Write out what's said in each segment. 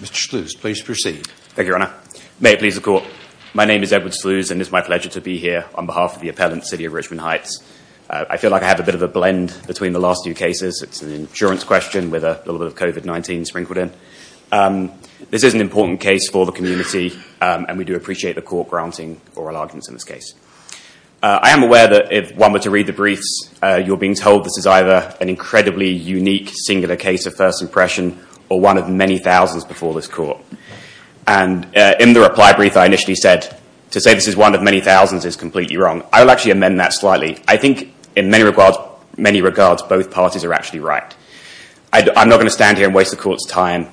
Mr. Sluze, please proceed. Thank you, Your Honor. May it please the Court. My name is Edward Sluze and it is my pleasure to be here on behalf of the appellant, City of Richmond Heights. I feel like I have a bit of a blend between the last few cases. It's an insurance question with a little bit of COVID-19 sprinkled in. This is an important case for the community and we do appreciate the Court granting oral arguments in this case. I am aware that if one were to read the briefs, you're being told this is either an incredibly unique singular case of first impression or one of many thousands before this Court. In the reply brief, I initially said, to say this is one of many thousands is completely wrong. I will actually amend that slightly. I think in many regards, both parties are actually right. I'm not going to stand here and waste the Court's time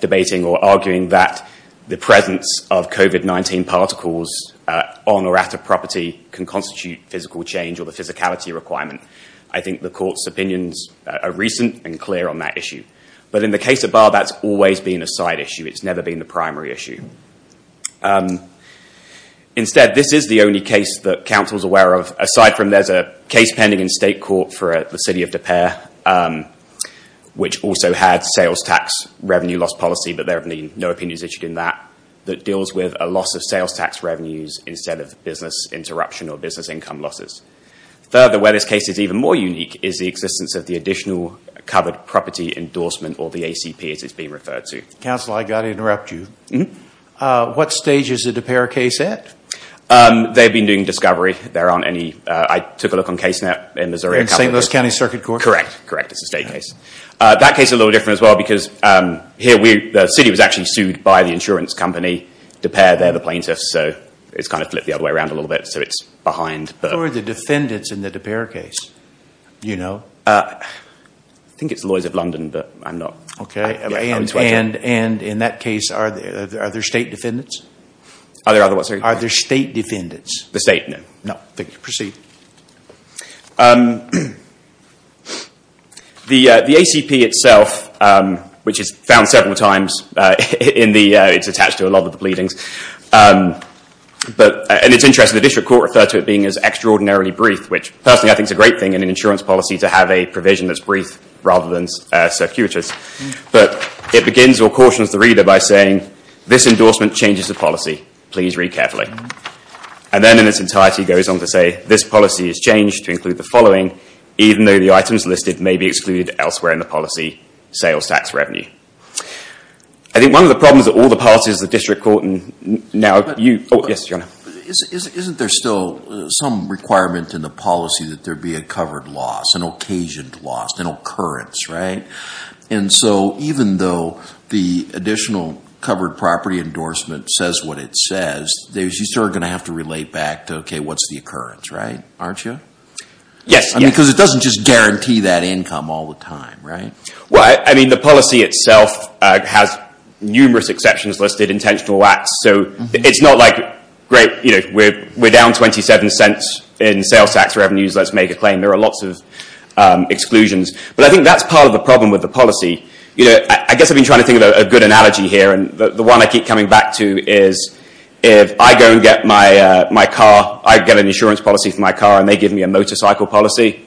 debating or arguing that the presence of COVID-19 particles on or at a property can constitute physical change or the physicality requirement. I think the Court's opinions are recent and clear on that issue. But in the case of Barr, that's always been a side issue. It's never been the primary issue. Instead, this is the only case that Council is aware of. Aside from there's a case pending in state court for the City of De Pere, which also had sales tax revenue loss policy, but there have been no opinions issued in that, that deals with a loss of sales tax revenues instead of business interruption or business income losses. Further, where this case is even more unique is the existence of the additional covered property endorsement or the ACP as it's being referred to. Counsel, I've got to interrupt you. What stage is the De Pere case at? They've been doing discovery. I took a look on CaseNet in Missouri. In St. Louis County Circuit Court? Correct. Correct. It's a state case. That case is a little different as well because here, the city was actually sued by the insurance company, De Pere, they're the plaintiffs, so it's kind of flipped the other way around a little bit, so it's behind. Who are the defendants in the De Pere case? You know? I think it's the Lawyers of London, but I'm not. Okay. And in that case, are there state defendants? Are there other ones? Are there state defendants? The state? No. No. Thank you. Proceed. The ACP itself, which is found several times, it's attached to a lot of the pleadings, and it's interesting, the district court referred to it being as extraordinarily brief, which personally I think is a great thing in an insurance policy to have a provision that's brief rather than circuitous, but it begins or cautions the reader by saying, this endorsement changes the policy. Please read carefully. And then in its entirety, it goes on to say, this policy is changed to include the following, even though the items listed may be excluded elsewhere in the policy, sales tax revenue. I think one of the problems that all the parties, the district court and now you, oh, yes, your honor. Isn't there still some requirement in the policy that there be a covered loss, an occasioned loss, an occurrence, right? And so even though the additional covered property endorsement says what it says, you still are going to have to relate back to, okay, what's the occurrence, right? Aren't you? Yes. Because it doesn't just guarantee that income all the time, right? Well, I mean, the policy itself has numerous exceptions listed, intentional lacks. So it's not like, great, we're down 27 cents in sales tax revenues, let's make a claim. There are lots of exclusions. But I think that's part of the problem with the policy. I guess I've been trying to think of a good analogy here, and the one I keep coming back to is if I go and get my car, I get an insurance policy for my car, and they give me a motorcycle policy,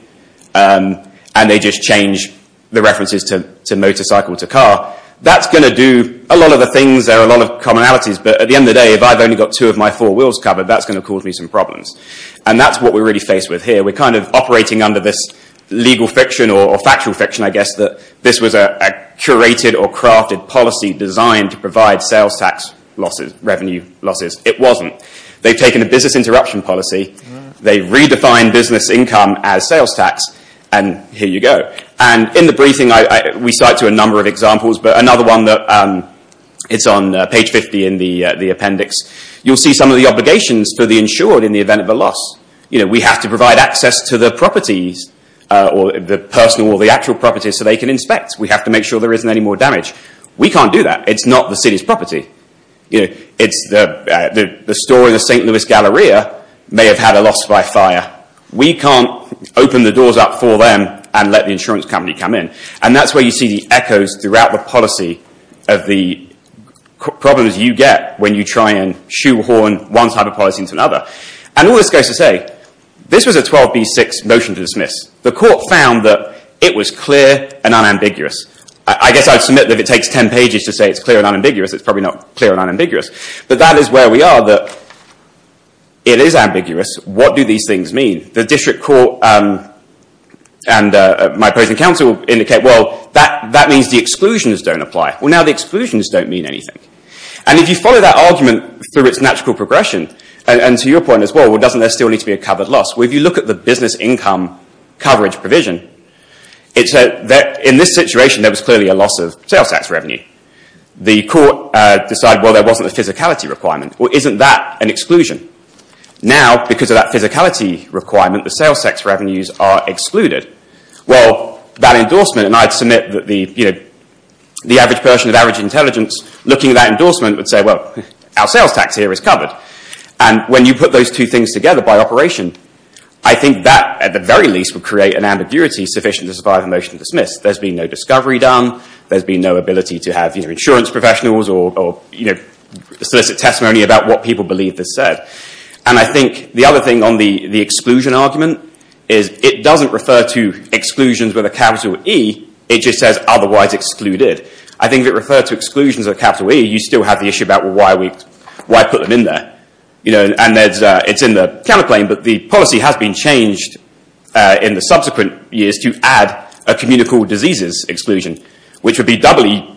and they just change the references to motorcycle to car, that's going to do a lot of the things. There are a lot of commonalities. But at the end of the day, if I've only got two of my four wheels covered, that's going to cause me some problems. And that's what we're really faced with here. We're kind of operating under this legal fiction or factual fiction, I guess, that this was a curated or crafted policy designed to provide sales tax revenue losses. It wasn't. They've taken a business interruption policy, they've redefined business income as sales tax, and here you go. And in the briefing, we cite to a number of examples, but another one, it's on page 50 in the appendix. You'll see some of the obligations for the insured in the event of a loss. We have to provide access to the properties, the personal or the actual properties, so they can inspect. We have to make sure there isn't any more damage. We can't do that. It's not the city's property. The store in the St. Louis Galleria may have had a loss by fire. We can't open the doors up for them and let the insurance company come in. And that's where you see the echoes throughout the policy of the problems you get when you try and shoehorn one type of policy into another. And all this goes to say, this was a 12B6 motion to dismiss. The court found that it was clear and unambiguous. I guess I'd submit that if it takes 10 pages to say it's clear and unambiguous, it's probably not clear and unambiguous. But that is where we are, that it is ambiguous. What do these things mean? The district court and my opposing counsel indicate, well, that means the exclusions don't apply. Well, now the exclusions don't mean anything. And if you follow that argument through its natural progression, and to your point as well, doesn't there still need to be a covered loss? Well, if you look at the business income coverage provision, in this situation, there was clearly a loss of sales tax revenue. The court decided, well, there wasn't a physicality requirement. Well, isn't that an exclusion? Now, because of that physicality requirement, the sales tax revenues are excluded. Well, that endorsement, and I'd submit that the average person of average intelligence looking at that endorsement would say, well, our sales tax here is covered. And when you put those two things together by operation, I think that, at the very least, would create an ambiguity sufficient to survive a motion to dismiss. There's been no discovery done, there's been no ability to have insurance professionals or solicit testimony about what people believe this said. And I think the other thing on the exclusion argument is it doesn't refer to exclusions with a capital E, it just says otherwise excluded. I think if it referred to exclusions with a capital E, you still have the issue about, well, why put them in there? And it's in the counter-claim, but the policy has been changed in the subsequent years to add a communicable diseases exclusion, which would be doubly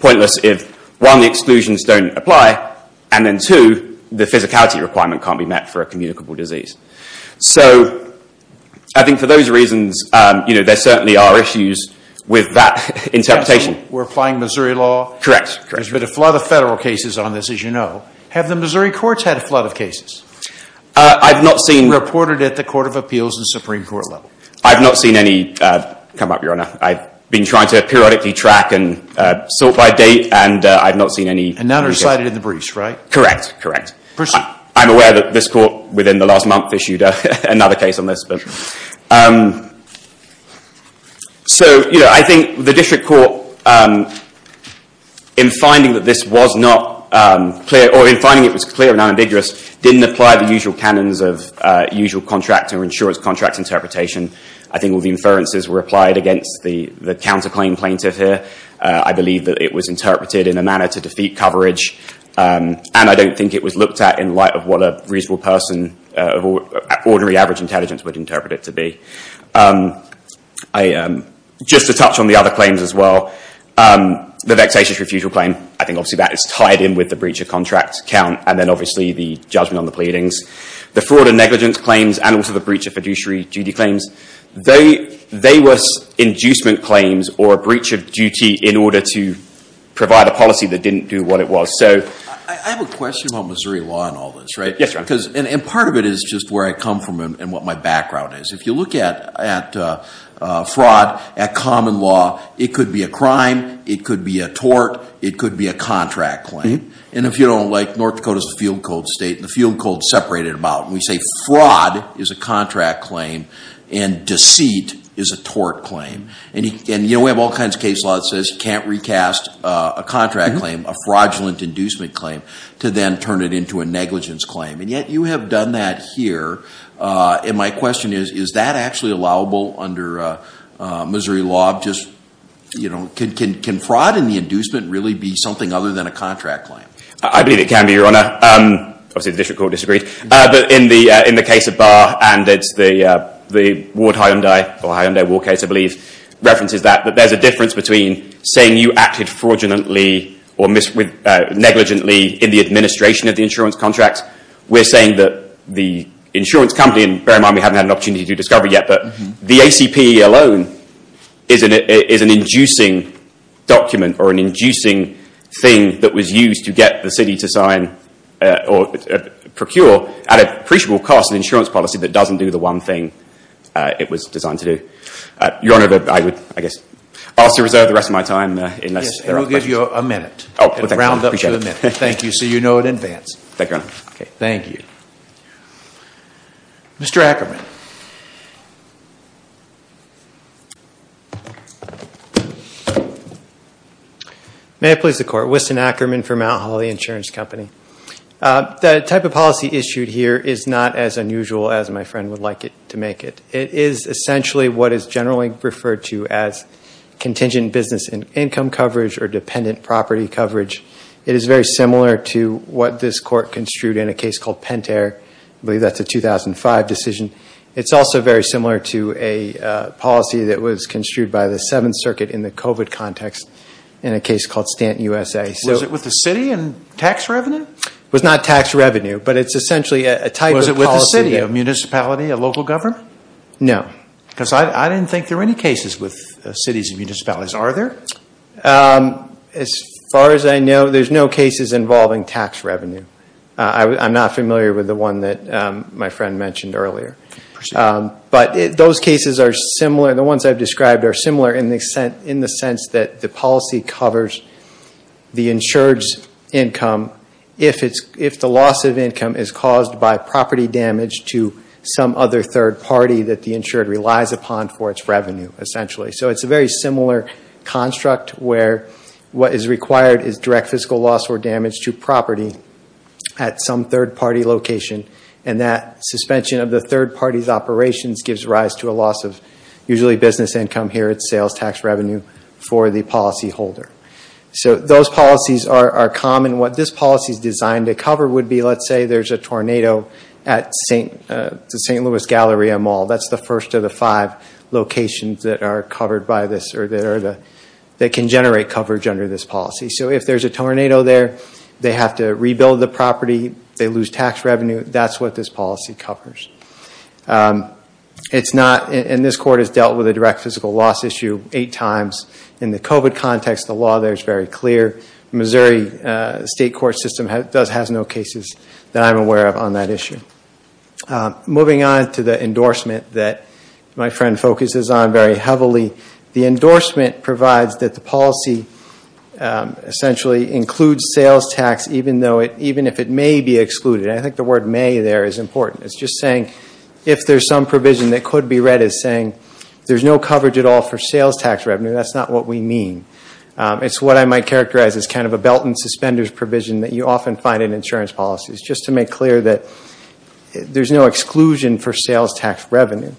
pointless if, one, the exclusions don't apply, and then, two, the physicality requirement can't be met for a communicable disease. So I think for those reasons, there certainly are issues with that interpretation. We're applying Missouri law. Correct, correct. There's been a flood of federal cases on this, as you know. Have the Missouri courts had a flood of cases? I've not seen... Reported at the Court of Appeals and Supreme Court level. I've not seen any come up, Your Honor. I've been trying to periodically track and sort by date, and I've not seen any... And none are cited in the briefs, right? Correct, correct. Proceed. I'm aware that this court, within the last month, issued another case on this. So, you know, I think the district court, in finding that this was not clear, or in finding it was clear and unambiguous, didn't apply the usual canons of usual contract or insurance contract interpretation. I think all the inferences were applied against the counterclaim plaintiff here. I believe that it was interpreted in a manner to defeat coverage, and I don't think it was looked at in light of what a reasonable person of ordinary average intelligence would interpret it to be. Just to touch on the other claims as well, the vexatious refusal claim, I think obviously that is tied in with the breach of contract count, and then obviously the judgment on the pleadings. The fraud and negligence claims and also the breach of fiduciary duty claims, they were inducement claims or a breach of duty in order to provide a policy that didn't do what it was. I have a question about Missouri law and all this, right? Yes, Your Honor. And part of it is just where I come from and what my background is. If you look at fraud, at common law, it could be a crime, it could be a tort, it could be a contract claim. And if you don't like North Dakota's field code state and the field code separated about, and we say fraud is a contract claim and deceit is a tort claim, and we have all kinds of case law that says you can't recast a contract claim, a fraudulent inducement claim, to then turn it into a negligence claim. And yet you have done that here. And my question is, is that actually allowable under Missouri law? Just, you know, can fraud and the inducement really be something other than a contract claim? I believe it can be, Your Honor. Obviously the district court disagreed. But in the case of Barr and it's the Ward-Hyundai, or Hyundai-Ward case, I believe, references that. But there's a difference between saying you acted fraudulently or negligently in the administration of the insurance contract we're saying that the insurance company, and bear in mind we haven't had an opportunity to discover yet, but the ACP alone is an inducing document or an inducing thing that was used to get the city to sign or procure at an appreciable cost an insurance policy that doesn't do the one thing it was designed to do. Your Honor, I would, I guess, ask to reserve the rest of my time. Yes, and we'll give you a minute. We'll round up to a minute. Thank you. So you know in advance. Thank you, Your Honor. Okay, thank you. Mr. Ackerman. May it please the Court. Winston Ackerman for Mount Holly Insurance Company. The type of policy issued here is not as unusual as my friend would like to make it. It is essentially what is generally referred to as contingent business income coverage or dependent property coverage. It is very similar to what this Court construed in a case called Pentair. I believe that's a 2005 decision. It's also very similar to a policy that was construed by the Seventh Circuit in the COVID context in a case called Stanton, USA. Was it with the city It was not tax revenue, but it's essentially a type of policy. Was it with the city, a municipality, a local government? No. Because I didn't think there were any cases with cities and municipalities. Are there? As far as I know, there's no cases involving tax revenue. I'm not familiar with the one that my friend mentioned earlier. But those cases are similar. The ones I've described are similar in the sense that the policy covers the insured's income if the loss of income is caused by property damage to some other third party that the insured relies upon for its revenue, essentially. So it's a very similar construct where what is required is direct fiscal loss or damage to property at some third party location and that suspension of the third party's operations gives rise to a loss of usually business income here at sales tax revenue for the policy holder. So those policies are common. What this policy is designed to cover would be let's say there's a tornado at the St. Louis Galleria Mall. That's the first of the five locations that are covered by this or that can generate coverage under this policy. So if there's a tornado there, they have to rebuild the property, they lose tax revenue. That's what this policy covers. And this court has dealt with a direct fiscal loss issue eight times. In the COVID context, the law there is very clear. Missouri State Court system does have no cases that I'm aware of on that issue. Moving on to the endorsement that my friend focuses on very heavily. The endorsement provides that the policy essentially includes sales tax even if it may be excluded. I think the word may there is important. It's just saying if there's some provision that could be read as saying there's no coverage at all for sales tax revenue, that's not what we mean. It's what I might characterize as kind of a belt and suspenders provision that you often find in insurance policies just to make clear that there's no exclusion for sales tax revenue.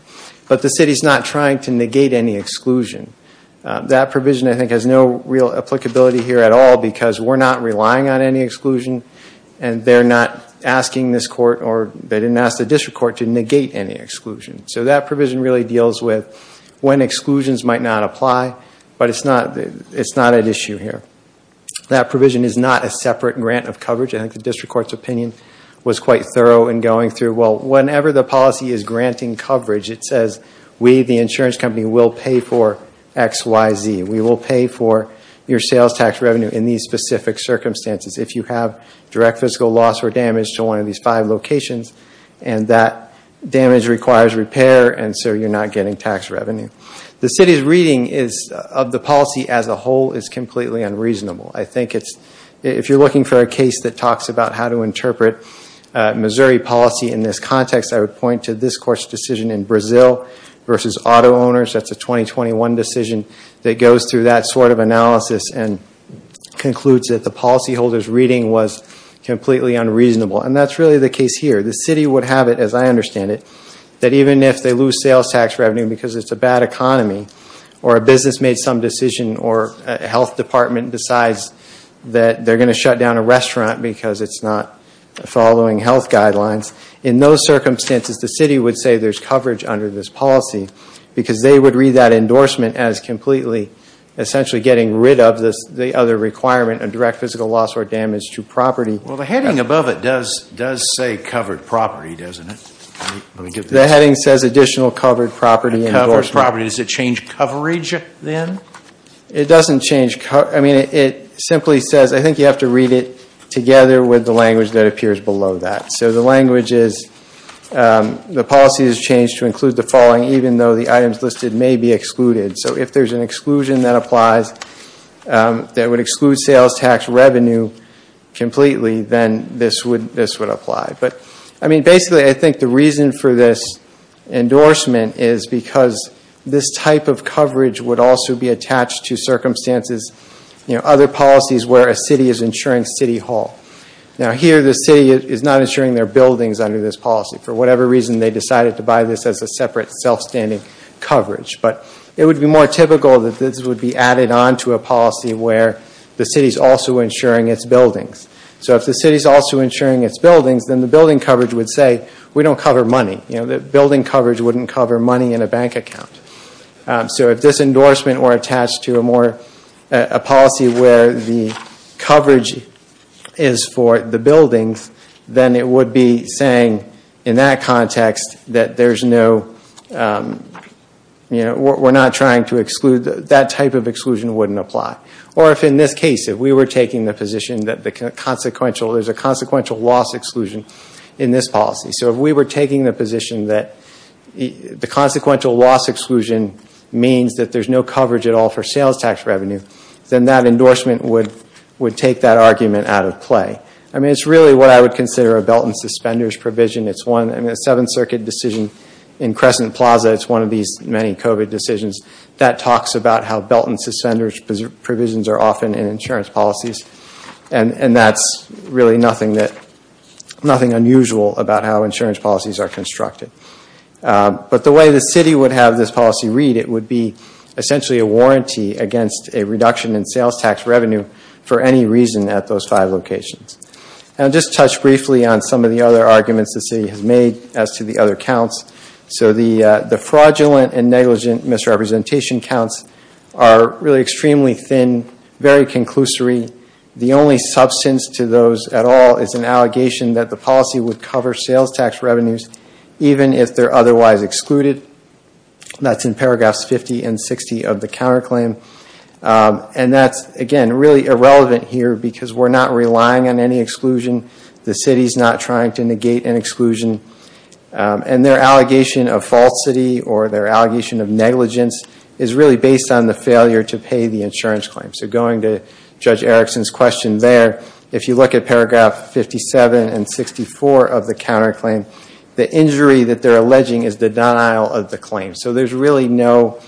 But the city's not trying to negate any exclusion. That provision, I think, has no real applicability here at all because we're not relying on any exclusion and they're not asking this court or they didn't ask the district court to negate any exclusion. So that provision really deals with when exclusions might not apply but it's not an issue here. That provision is not a separate grant of coverage. I think the district court's opinion was quite thorough in going through. Well, whenever the policy is granting coverage, it says we, the insurance company, will pay for X, Y, Z. We will pay for your sales tax revenue in these specific circumstances if you have direct fiscal loss or damage to one of these five locations and that damage requires repair and so you're not getting tax revenue. The city's reading of the policy as a whole is completely unreasonable. I think if you're looking for a case that talks about how to interpret Missouri policy in this context, I would point to this court's decision in Brazil versus auto owners that's a 2021 decision that goes through that sort of analysis and concludes that the policyholder's reading was completely unreasonable and that's really the case here. The city would have it as I understand it that even if they lose sales tax revenue because it's a bad economy or a business made some decision or a health department decides that they're going to shut down a restaurant because it's not following health guidelines. In those circumstances the city would say there's coverage under this policy because they would read that endorsement as completely essentially getting rid of the other requirement of direct physical loss or damage to property. Well the heading above it does say covered property doesn't it? The heading says additional covered property endorsement. Does it change coverage then? It doesn't change coverage. It simply says I think you have to read it together with the language that appears below that. So the language is the policy is changed to include the following even though the items listed may be excluded. So if there's an exclusion that applies that would exclude sales tax revenue completely then this would apply. Basically I think the reason for this endorsement is because this type of coverage would also be attached to circumstances other policies where a city is insuring city hall. Now here the city is not insuring their buildings under this policy. For whatever reason they decided to buy this as a separate self-standing coverage. But it would be more typical that this would be added on to a policy where the city is also insuring its buildings. So if the city is also insuring its buildings then the building coverage would say we don't cover money. Building coverage wouldn't cover money in a bank account. So if this endorsement were attached to a more a policy where the coverage is for the buildings then it would be saying in that context that there's no we're not trying to exclude that type of exclusion wouldn't apply. Or if in this case if we were taking the position that there's a consequential loss exclusion in this policy. So if we were taking the position that the consequential loss exclusion means that there's no coverage at all for sales tax revenue then that endorsement would take that argument out of play. I mean it's really what I would consider a belt and suspenders provision. It's one in the Seventh Circuit decision in Crescent Plaza it's one of these many COVID decisions that talks about how belt and suspenders provisions are often in insurance policies and that's really nothing that nothing unusual about how insurance policies are constructed. But the way the city would have this policy read it would be essentially a warranty against a reduction in sales tax revenue for any reason at those five locations. And I'll just touch briefly on some of the other arguments the city has made as to the other counts. So the fraudulent and negligent misrepresentation counts are really extremely thin, very conclusory. The only substance to those at all is an allegation that the policy would cover sales tax revenues even if they're otherwise excluded. That's in paragraphs 50 and 60 of the counter claim. And that's again really irrelevant here because we're not relying on any exclusion. The city's not trying to negate an exclusion. And their allegation of falsity or their allegation of negligence is really based on the failure to pay the insurance claim. So going to Judge Erickson's question there if you look at paragraph 57 and 64 of the counter claim the injury that they're alleging is the denial of the claim. So there's really no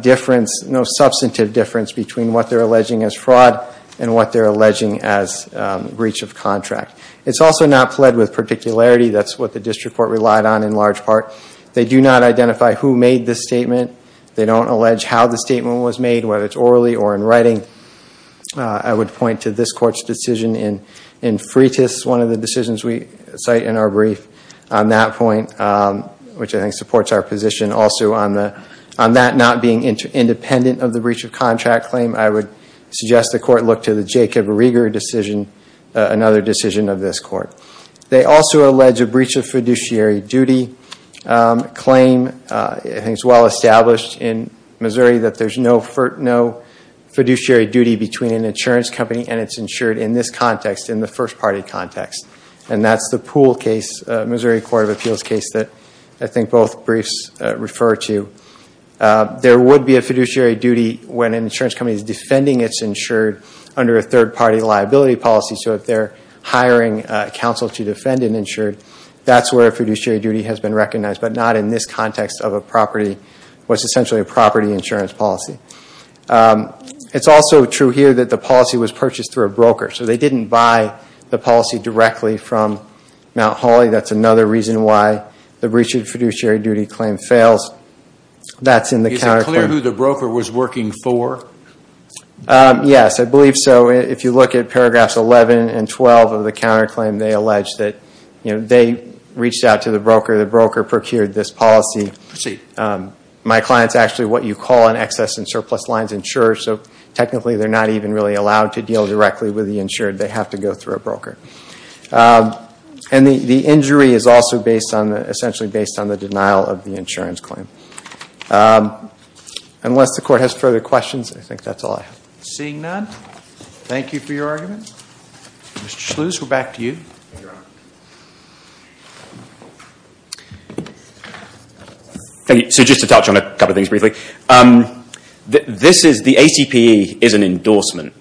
difference, no substantive difference between what they're alleging as fraud and what they're alleging as breach of contract. It's also not pled with particularity. That's what the district court relied on in large part. They do not identify who made the statement. They don't allege how the statement was made. allege the claim which I think supports our position also on that not being independent of the breach of contract claim. I would suggest the court look to the Jacob Reger decision, another decision of this court. They also allege a breach of fiduciary duty claim. I think it's well established in Missouri that there's no fiduciary duty between an insurance company and its insured in this context, in the first party context. That's the pool case, Missouri court of appeals case that I think both briefs refer to. There would be a fiduciary duty when an insurance company is defending its insured under a third party liability policy. If they're hiring counsel to defend an insured, that's where fiduciary duty has been used. But the policy was purchased through a broker. So they didn't buy the policy directly from Mount Holly. That's another reason why the breach of fiduciary duty claim fails. Is it clear who the broker was working for? Yes, I believe so. If you look at paragraphs 11 and 12 of the insurance claim, they have to go through a broker. And the injury is essentially based on the denial of the insurance claim. court has further questions, I think that's all I have. Seeing none, thank you for your argument. Mr. Schloos, we're back to you. So just to touch on a couple of things briefly. The ACPE is an endorsement.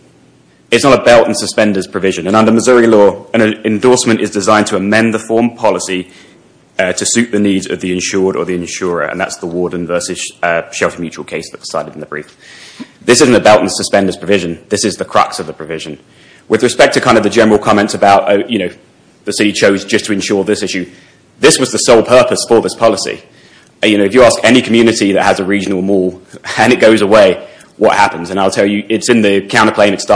It's not a belt and suspenders provision. Under Missouri law, an endorsement is designed to amend the form policy to suit the needs of the insured or the insurer. This is the crux of the provision. With respect to the general comments about this issue, this was the sole purpose for this policy. If you ask any community that has a regional mall and it goes down, it's a huge cost. Those costs don't go away if the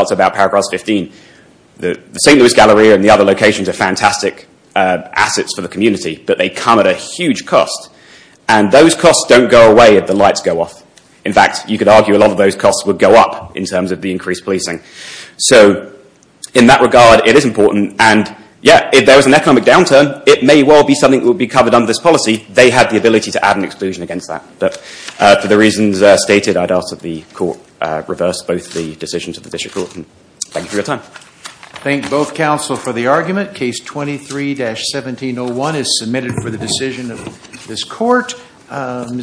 lights go off. In that regard, it is important. If there is an economic downturn, they have the ability to add an exclusion against that. For the reasons stated, I would ask that the court reverse the decisions of the district court. Thank you for your time.